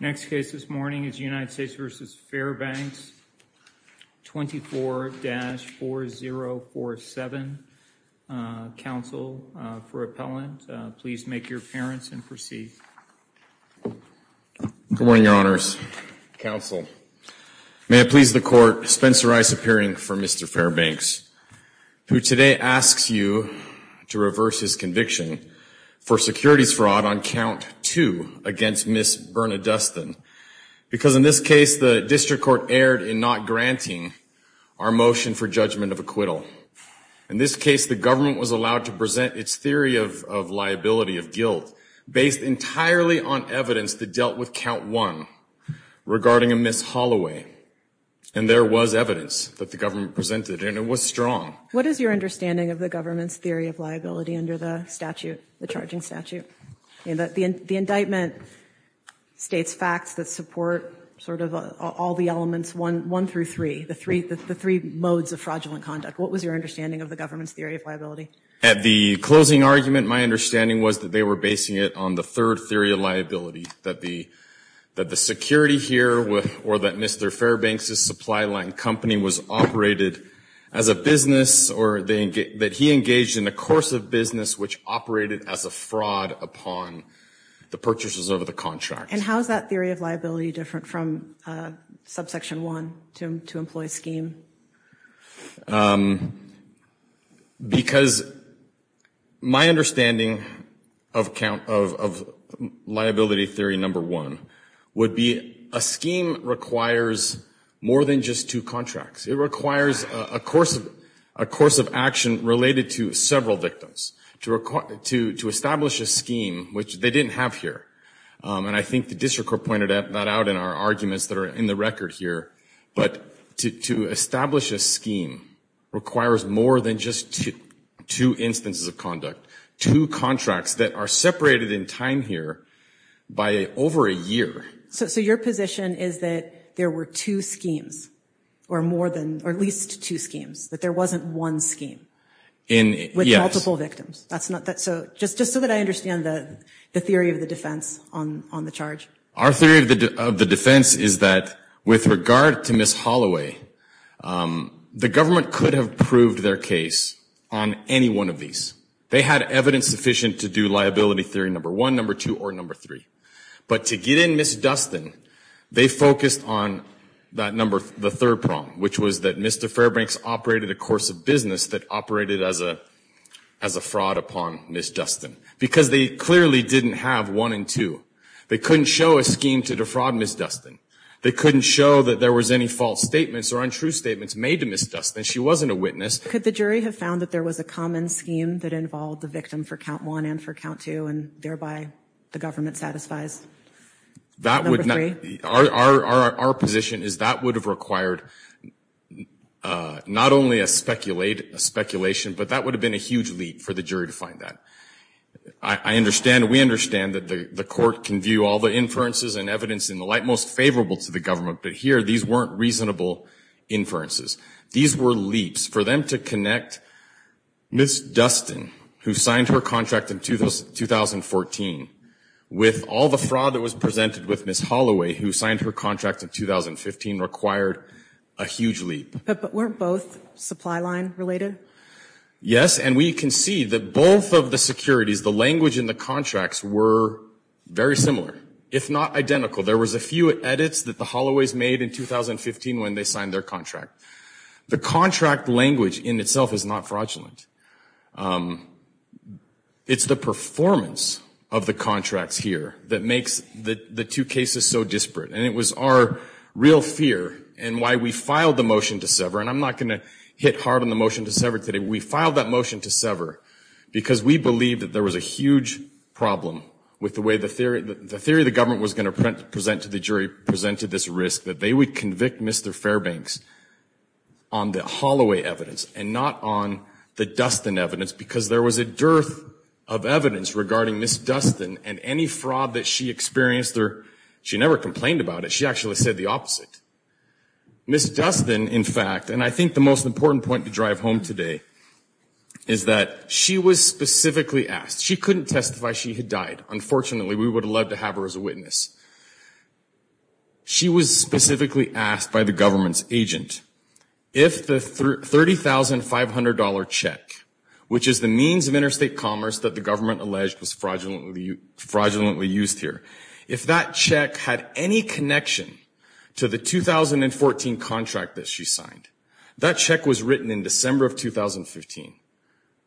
Next case this morning is United States v. Fairbanks 24-4047. Counsel for appellant, please make your appearance and proceed. Good morning, Your Honors. Counsel, may it please the court, Spencer Ice appearing for Mr. Fairbanks, who today asks you to reverse his conviction for securities fraud on count 2 against Ms. Bernadustin, because in this case the district court erred in not granting our motion for judgment of acquittal. In this case, the government was allowed to present its theory of liability of guilt based entirely on evidence that dealt with count 1 regarding a Ms. Holloway, and there was evidence that the government presented, and it was strong. What is your understanding of the government's theory of liability under the statute, the charging statute, and the indictment states facts that support sort of all the elements 1 through 3, the three modes of fraudulent conduct. What was your understanding of the government's theory of liability? At the closing argument, my understanding was that they were basing it on the third theory of liability, that the security here, or that Mr. Fairbanks's supply-line company was operated as a business, or that he engaged in a course of business which operated as a fraud upon the purchases of the contract. And how is that theory of liability different from subsection 1, to employ scheme? Because my understanding of liability theory number 1 would be a scheme requires more than just two contracts. It requires a course of action related to several victims. To establish a scheme, which they didn't have here, and I think the district court pointed that out in our arguments that are in the record here, but to establish a scheme requires more than just two instances of conduct. Two contracts that are separated in time here by over a year. So your position is that there were two schemes, or more than, or at least two schemes, that there wasn't one scheme with multiple victims? Just so that I understand the theory of the defense on the charge. Our theory of the defense is that with regard to Ms. Holloway, the government could have proved their case on any one of these. They had evidence sufficient to do liability theory number 1, number 2, or number 3. But to get in Ms. Dustin, they focused on that number, the third prong, which was that Mr. Fairbanks operated a course of business that operated as a fraud upon Ms. Dustin. Because they clearly didn't have one and two. They couldn't show a scheme to defraud Ms. Dustin. They couldn't show that there was any false statements or untrue statements made to Ms. Dustin. She wasn't a witness. Could the jury have found that there was a common scheme that involved the victim for count 1 and for count 2, and thereby the government satisfies number 3? Our position is that would have required not only a speculation, but that would have been a huge leap for the jury to find that. I understand, we understand that the court can view all the inferences and evidence in the light most favorable to the government, but here these weren't reasonable inferences. These were leaps for them to connect Ms. Dustin, who signed her contract in 2014, with all the fraud that was presented with Ms. Holloway, who signed her contract in 2015, required a huge leap. But weren't both supply line related? Yes, and we can see that both of the securities, the language in the contracts, were very similar, if not identical. There was a few edits that the Holloways made in 2015 when they signed their contract. The contract language in itself is not fraudulent. It's the performance of the contracts here that makes the two cases so disparate, and it was our real fear and why we filed the motion to sever, and I'm not going to hit hard on the motion to sever today, we filed that motion to sever because we believe that there was a huge problem with the way the theory the theory the government was going to present to the jury presented this risk that they would convict Mr. Fairbanks on the Holloway evidence and not on the Dustin evidence, because there was a dearth of evidence regarding Ms. Dustin and any fraud that she experienced there, she never complained about it, she actually said the opposite. Ms. Dustin, in fact, and I think the most important point to drive home today, is that she was specifically asked. She couldn't testify she had died. Unfortunately, we would have loved to have her as a specifically asked by the government's agent. If the $30,500 check, which is the means of interstate commerce that the government alleged was fraudulently used here, if that check had any connection to the 2014 contract that she signed, that check was written in December of 2015,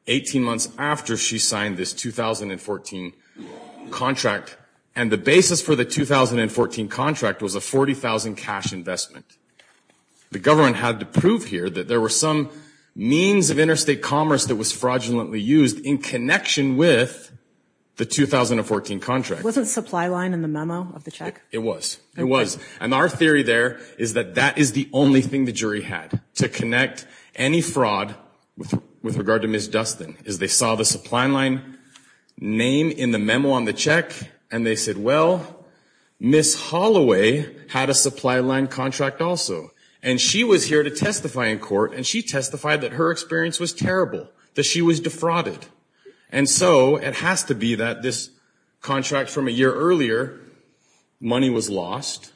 18 months after she signed this 2014 contract, and the basis for the 2014 contract was a 40,000 cash investment. The government had to prove here that there were some means of interstate commerce that was fraudulently used in connection with the 2014 contract. Wasn't supply line in the memo of the check? It was, it was, and our theory there is that that is the only thing the jury had to connect any fraud with with regard to Ms. Dustin, is they saw the supply line name in the memo on the check, and they said, well, Ms. Holloway had a supply line contract also, and she was here to testify in court, and she testified that her experience was terrible, that she was defrauded, and so it has to be that this contract from a year earlier, money was lost,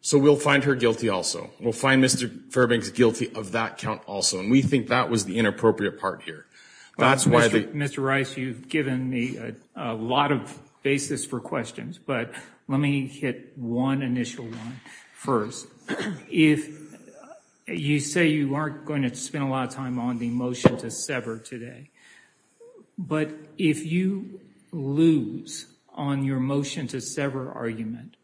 so we'll find her guilty also. We'll find Mr. Fairbanks guilty of that count also, and we think that was the inappropriate part here. That's why... Mr. Rice, you've given me a lot of basis for questions, but let me hit one initial one first. If you say you aren't going to spend a lot of time on the motion to sever today, but if you lose on your motion to sever argument,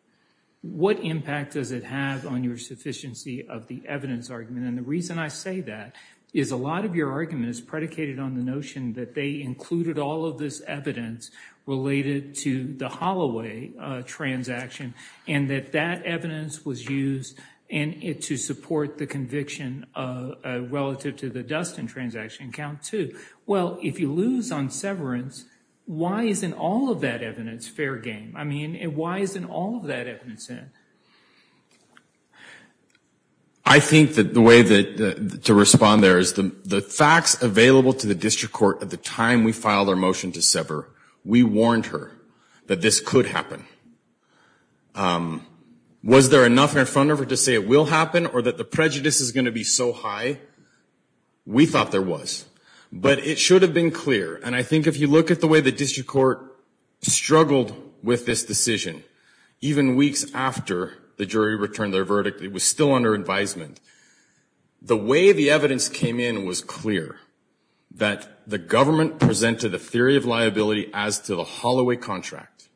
what impact does it have on your sufficiency of the evidence argument? And the reason I say that is a lot of your argument is predicated on the notion that they included all of this evidence related to the Holloway transaction, and that that evidence was used in it to support the conviction relative to the Dustin transaction count, too. Well, if you lose on severance, why isn't all of that evidence fair game? I mean, why isn't all of that evidence in? I think that the way to respond there is the facts available to the district court at the time we filed our motion to sever, we warned her that this could happen. Was there enough in front of her to say it will happen, or that the prejudice is going to be so high? We thought there was, but it should have been clear, and I think if you look at the way the district court struggled with this decision, even weeks after the jury returned their verdict, it was still under advisement. The way the evidence came in was clear, that the government presented a theory of liability as to the Holloway contract,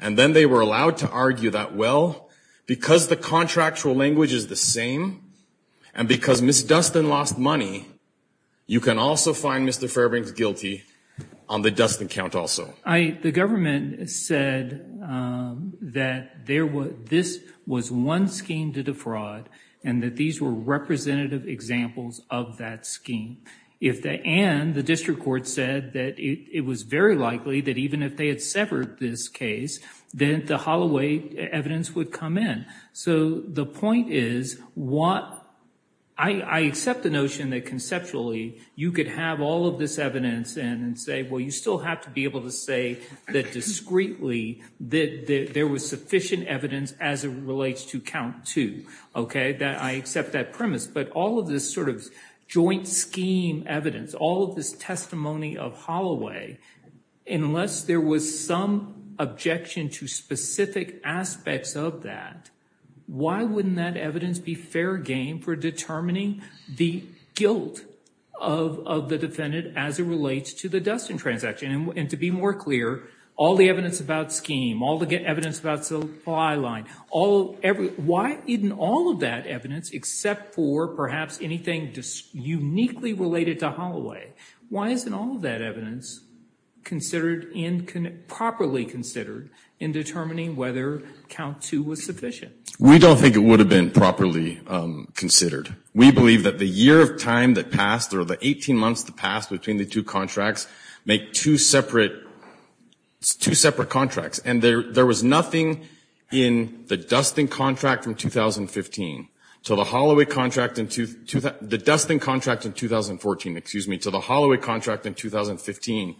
and then they were allowed to argue that, well, because the contractual language is the same, and because Miss Dustin lost money, you can also find Mr. Fairbanks guilty on the Dustin count also. The government said that this was one scheme to fraud, and that these were representative examples of that scheme. If they, and the district court said that it was very likely that even if they had severed this case, then the Holloway evidence would come in. So the point is what, I accept the notion that conceptually you could have all of this evidence, and say, well, you still have to be able to say that discreetly that there was sufficient evidence as it relates to count two. Okay, that I accept that premise, but all of this sort of joint scheme evidence, all of this testimony of Holloway, unless there was some objection to specific aspects of that, why wouldn't that evidence be fair game for determining the guilt of the defendant as it relates to the Dustin transaction? And to be more clear, all the evidence about scheme, all the evidence about supply line, why isn't all of that evidence, except for perhaps anything just uniquely related to Holloway, why isn't all of that evidence properly considered in determining whether count two was sufficient? We don't think it would have been properly considered. We believe that the year of time that passed, or the 18 months that passed between the two contracts, make two separate, two separate contracts. And there was nothing in the Dustin contract from 2015 to the Holloway contract, the Dustin contract in 2014, excuse me, to the Holloway contract in 2015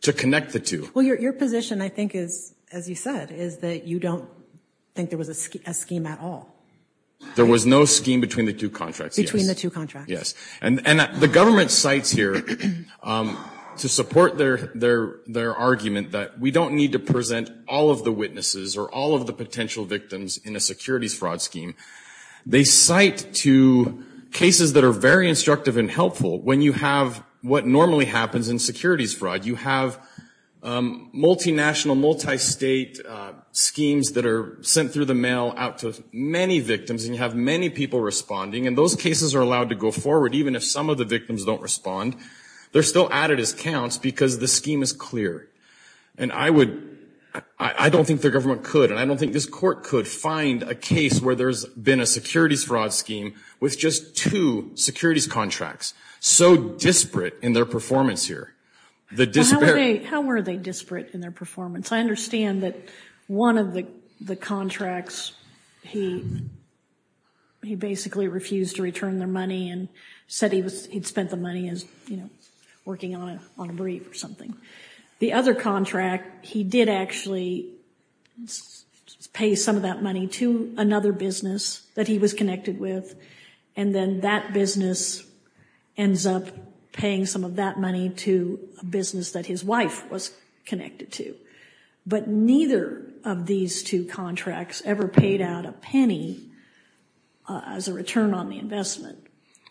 to connect the two. Well, your position, I think, is, as you said, is that you don't think there was a scheme at all. There was no scheme between the two contracts. Between the two contracts. Yes, and the government cites here to support their argument that we don't need to present all of the witnesses or all of the potential victims in a securities fraud scheme. They cite to cases that are very instructive and helpful. When you have what normally happens in securities fraud, you have multinational, multi-state schemes that are sent through the mail out to many victims, and you have many people responding, and those cases are allowed to go forward even if some of the victims don't respond. They're still added as counts because the scheme is clear. And I would, I don't think the government could, and I don't think this court could find a case where there's been a securities fraud scheme with just two securities contracts. So disparate in their performance here. The disparity. How were they disparate in their performance? I understand that one of the contracts, he basically refused to return their money and said he was, he'd spent the money as, you know, working on a brief or something. The other contract, he did actually pay some of that money to another business that he was connected with, and then that business ends up paying some of that money to a business that his wife was connected to. But neither of these two contracts ever paid out a penny as a return on the investment,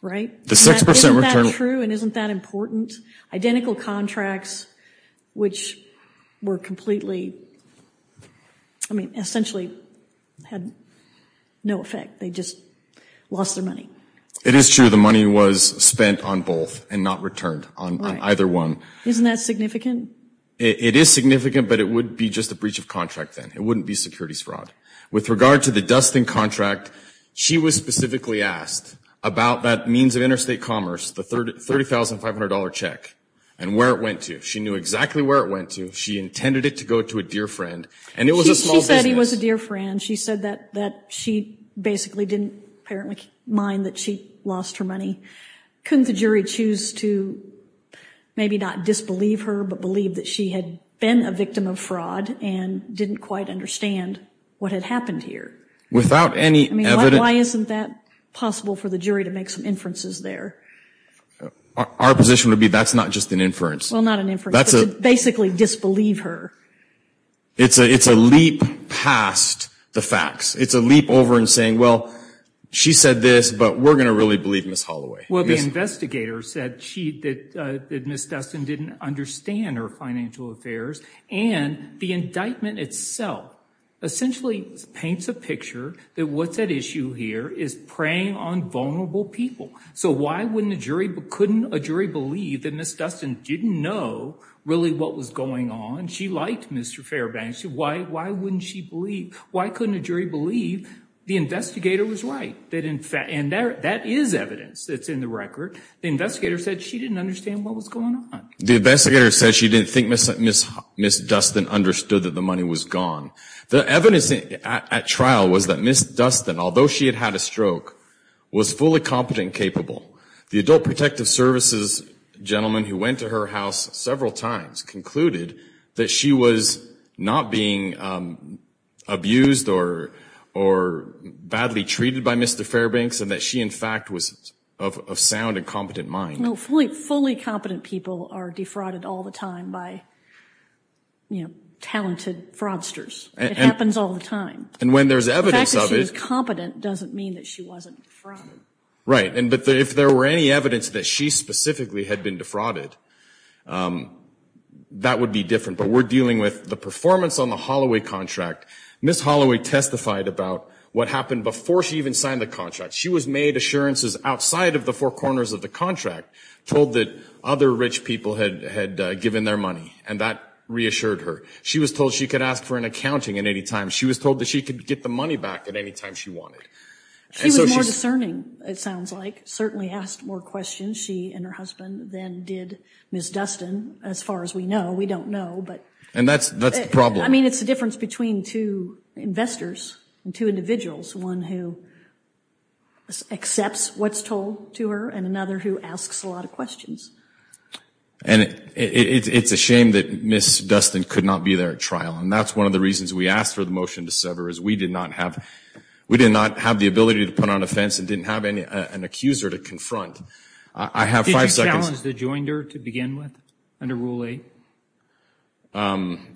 right? Isn't that true and isn't that important? Identical contracts, which were completely, I mean, essentially had no effect. They just lost their money. It is true. The money was spent on both and not returned on either one. Isn't that significant? It is significant, but it would be just a breach of contract then. It wouldn't be securities fraud. With regard to the Dustin contract, she was specifically asked about that means of interstate commerce, the $30,500 check, and where it went to. She knew exactly where it went to. She intended it to go to a dear friend, and it was a small business. She said he was a dear friend. She said that she basically didn't apparently mind that she lost her money. Couldn't the jury choose to maybe not disbelieve her, but believe that she had been a victim of fraud and didn't quite understand what had happened here? Without any evidence... Why isn't that possible for the jury to make some inferences there? Our position would be that's not just an inference. Well, not an inference, but to basically disbelieve her. It's a leap past the facts. It's a leap over and saying, well, she said this, but we're gonna really believe Ms. Holloway. Well, the investigator said that Ms. Dustin didn't understand her financial affairs, and the indictment itself essentially paints a picture that what's at issue here is preying on vulnerable people. So why couldn't a jury believe that Ms. Dustin didn't know really what was going on? She liked Mr. Fairbank. Why wouldn't she believe? Why couldn't a jury believe the investigator was right? And that is evidence that's in the record. The investigator said she didn't understand what was going on. The investigator said she didn't think Ms. Dustin understood that the money was gone. The evidence at trial was that Ms. Dustin, although she had had a stroke, was fully competent and capable. The Adult Protective Services gentleman who went to her house several times concluded that she was not being abused or badly treated by Mr. Fairbanks, and that she, in fact, was of sound and competent mind. No, fully competent people are defrauded all the time by, you know, talented fraudsters. It happens all the time. And when there's evidence of it... The fact that she was competent doesn't mean that she wasn't fraudulent. Right, and but if there were any evidence that she specifically had been defrauded, that would be different. But we're dealing with the performance on the Holloway contract. Ms. Holloway testified about what happened before she even signed the contract. She was made assurances outside of the four corners of the contract, told that other rich people had given their money, and that reassured her. She was told she could ask for an accounting at any time. She was told that she could get the money back at any time she wanted. She was more discerning, it sounds like. Certainly asked more questions, she and her husband, than did Ms. Dustin. As far as we know, we don't know, but... And that's the problem. I mean it's the difference between two investors and two individuals. One who accepts what's told to her, and another who asks a lot of questions. And it's a shame that Ms. Dustin could not be there at trial, and that's one of the reasons we asked for the motion to sever, is we did not have the ability to put on a fence and didn't have an accuser to confront. I have five seconds. Did you challenge the joinder to begin with, under Rule 8?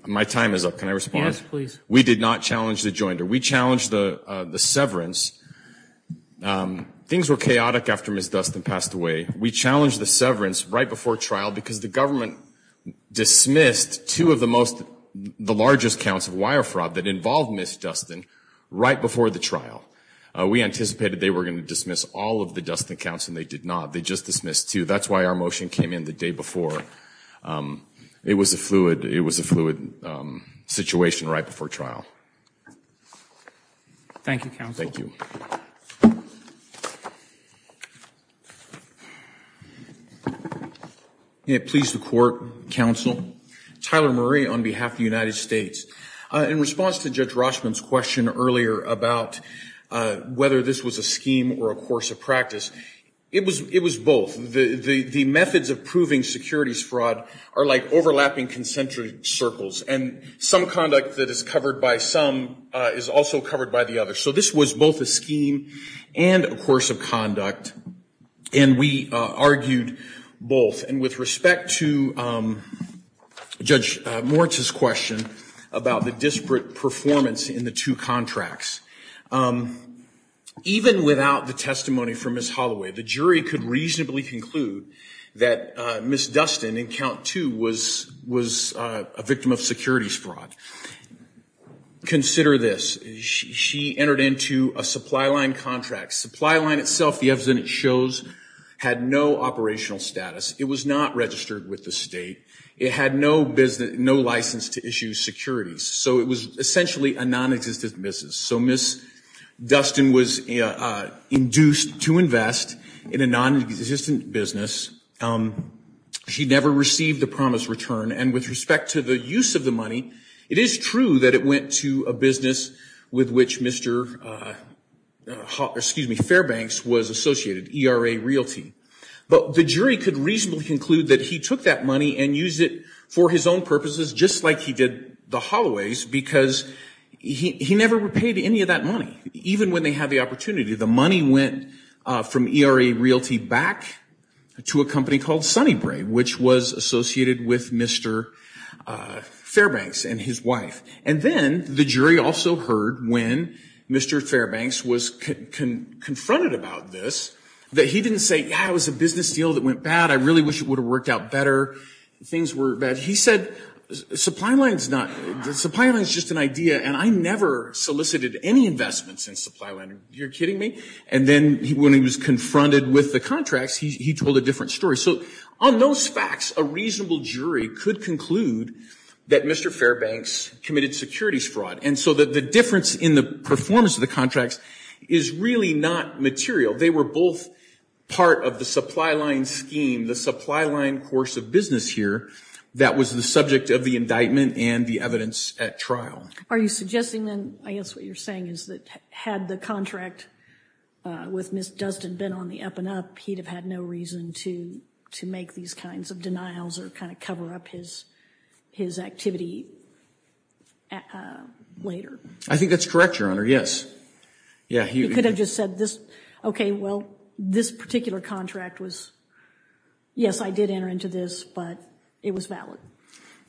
My time is up. Can I respond? Yes, please. We did not challenge the joinder. We challenged the severance. Things were chaotic after Ms. Dustin passed away. We challenged the severance right before trial, because the government dismissed two of the most, the largest counts of wire fraud that involved Ms. Dustin, right before the trial. We anticipated they were going to dismiss all of the Dustin counts, and they did not. They just dismissed two. That's why our motion came in the day before. It was a fluid, it was a fluid situation right before trial. Thank you, counsel. May it please the court, counsel. Tyler Murray, on behalf of the United States. In response to Judge Rochman's question earlier about whether this was a scheme or a course of practice, it was, it was both. The, the, the methods of proving securities fraud are like overlapping concentric circles, and some conduct that is covered by some is also covered by the other. So this was both a scheme and a course of conduct, and we argued both. And with respect to Judge Moritz's question about the disparate performance in the two contracts, even without the testimony from Ms. Holloway, the jury could reasonably conclude that Ms. Dustin, in count two, was, was a victim of securities fraud. Consider this. She entered into a supply line contract. Supply line itself, the evidence shows, had no operational status. It was not registered with the state. It had no business, no license to issue securities. So it was essentially a non-existent business. So Ms. Dustin was induced to invest in a non-existent business, she never received the promised return, and with respect to the use of the money, it is true that it went to a business with which Mr., excuse me, Fairbanks was associated, ERA Realty. But the jury could reasonably conclude that he took that money and used it for his own purposes, just like he did the Holloways, because he, he never repaid any of that money, even when they had the opportunity. The company called Sunnybrae, which was associated with Mr. Fairbanks and his wife. And then the jury also heard when Mr. Fairbanks was confronted about this, that he didn't say, yeah, it was a business deal that went bad, I really wish it would have worked out better, things were bad. He said, supply line's not, supply line's just an idea, and I never solicited any investments in supply line. You're kidding me? And then when he was confronted with the contracts, he told a different story. So on those facts, a reasonable jury could conclude that Mr. Fairbanks committed securities fraud. And so that the difference in the performance of the contracts is really not material. They were both part of the supply line scheme, the supply line course of business here, that was the subject of the indictment and the evidence at trial. Are you suggesting then, I guess what you're saying is that had the contract with Ms. Dustin been on the up-and-up, he'd have had no reason to to make these kinds of denials or kind of cover up his his activity later? I think that's correct, Your Honor, yes. Yeah, he could have just said this, okay, well, this particular contract was, yes, I did enter into this, but it was valid.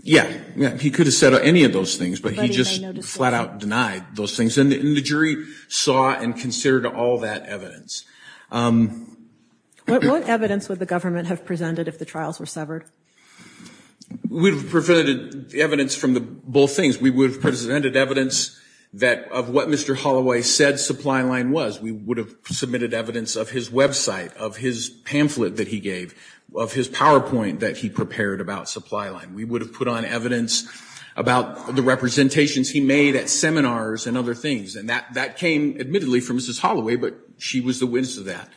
Yeah, yeah, he could have said any of those things, but he just flat-out denied those things. And the jury saw and considered all that evidence. What evidence would the government have presented if the trials were severed? We've presented evidence from the both things. We would have presented evidence that of what Mr. Holloway said supply line was. We would have submitted evidence of his website, of his pamphlet that he gave, of his PowerPoint that he prepared about supply line. We would have put on evidence about the representations he made at seminars and other things. And that that came admittedly from Mrs. Holloway, but she was the witness of that.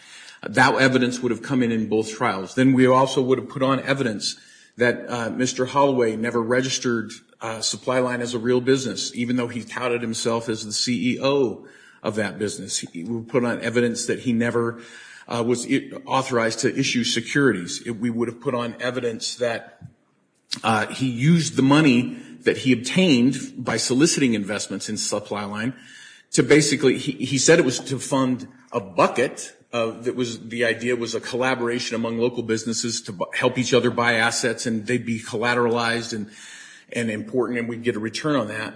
That evidence would have come in in both trials. Then we also would have put on evidence that Mr. Holloway never registered supply line as a real business, even though he touted himself as the CEO of that business. He put on evidence that he never was authorized to issue securities. We would have put on evidence that he used the money that he obtained by soliciting investments in supply line to basically he said it was to fund a bucket that was the idea was a collaboration among local businesses to help each other buy assets and they'd be collateralized and and important and we'd get a return on that.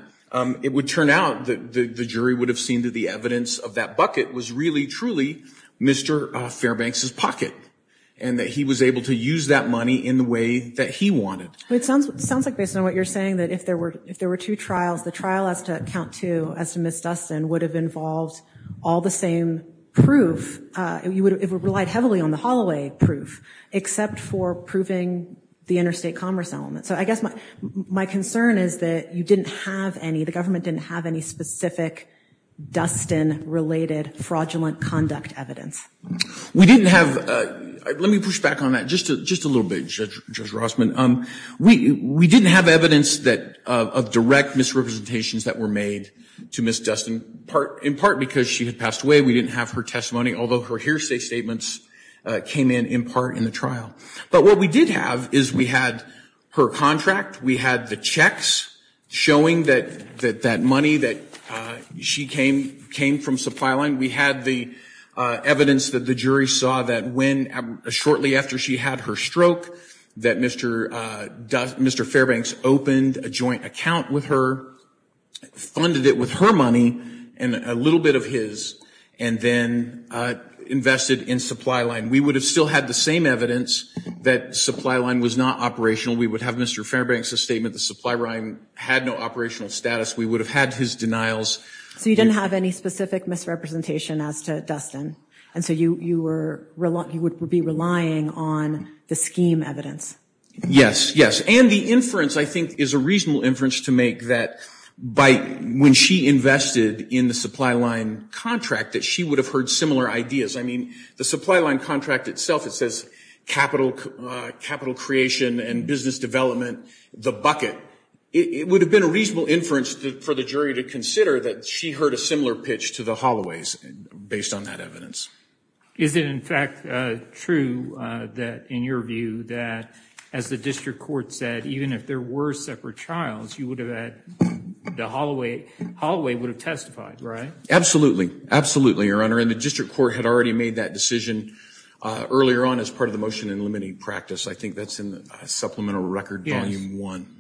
It would turn out that the jury would have seen that the evidence of that bucket was really truly Mr. Fairbanks's pocket and that he was able to use that money in the way that he wanted. It sounds like based on what you're saying that if there were if there were two trials the trial has to count two as to Ms. Dustin would have involved all the same proof you would have relied heavily on the Holloway proof except for proving the interstate commerce element. So I guess my my concern is that you didn't have any the government didn't have any specific Dustin related fraudulent conduct evidence. We didn't have, let me push back on that just just a little bit Judge Rossman, um we we didn't have evidence that of direct misrepresentations that were made to Miss Dustin part in part because she had passed away we didn't have her testimony although her hearsay statements came in in part in the trial. But what we did have is we had her contract we had the checks showing that that that money that she came came from supply line we had the evidence that the jury saw that when shortly after she had her stroke that Mr. Fairbanks opened a joint account with her funded it with her money and a little bit of his and then invested in supply line we would have still had the same evidence that supply line was not operational we would have Mr. Fairbanks a statement the supply line had no operational status we would have had his denials. So you didn't have any specific misrepresentation as to Dustin and so you you were reluctant you would be relying on the scheme evidence. Yes yes and the inference I think is a reasonable inference to make that by when she invested in the supply line contract that she would have heard similar ideas I mean the supply line contract itself it says capital capital creation and business development the bucket it would have been a reasonable inference for the jury to consider that she heard a similar pitch to the Holloway's based on that evidence. Is it in fact true that in your view that as the district court said even if there were separate trials you would have had the Holloway, Holloway would have testified right? Absolutely absolutely your honor and the district court had already made that decision earlier on as part of the motion in limiting practice I think that's in the supplemental record volume 1.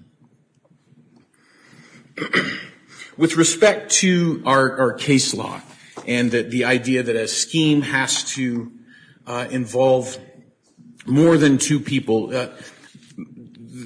With respect to our case law and that the idea that a scheme has to involve more than two people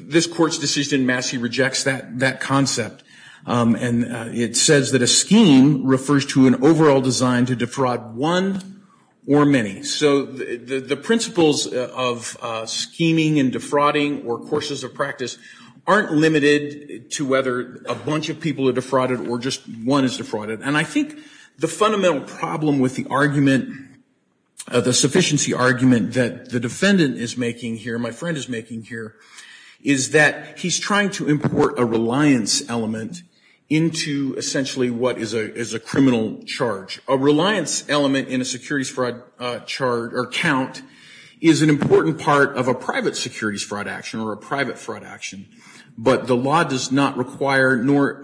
this court's decision Massey rejects that that concept and it says that a scheme refers to an overall design to defraud one or many so the principles of scheming and defrauding or courses of practice aren't limited to whether a bunch of people are defrauded or just one is defrauded and I think the fundamental problem with the argument of the sufficiency argument that the defendant is making here my friend is making here is that he's trying to import a reliance element into essentially what is a is a criminal charge a reliance element in a securities fraud charge or count is an important part of a private securities fraud action or a private fraud action but the law does not require nor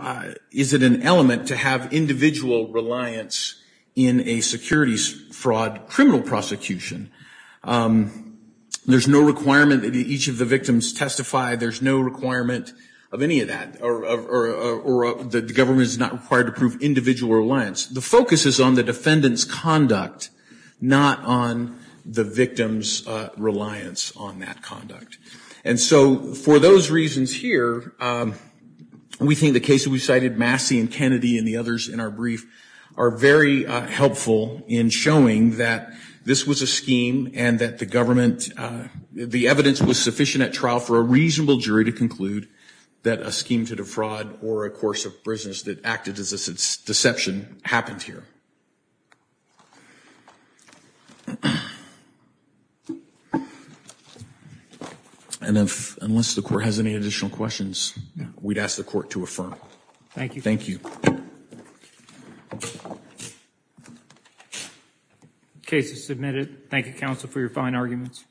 is it an element to have individual reliance in a securities fraud criminal prosecution there's no requirement that each of the victims testify there's no requirement of any of that or the government is not required to prove individual reliance the focus is on the defendants conduct not on the victims reliance on that conduct and so for those reasons here we think the case we cited Massey and Kennedy and the others in our brief are very helpful in showing that this was a scheme and that the government the evidence was sufficient at trial for a reasonable jury to conclude that a scheme to defraud or a course of business that acted as its deception happened here and if unless the court has any additional questions we'd ask the court to affirm thank you thank you cases submitted Thank You counsel for your fine arguments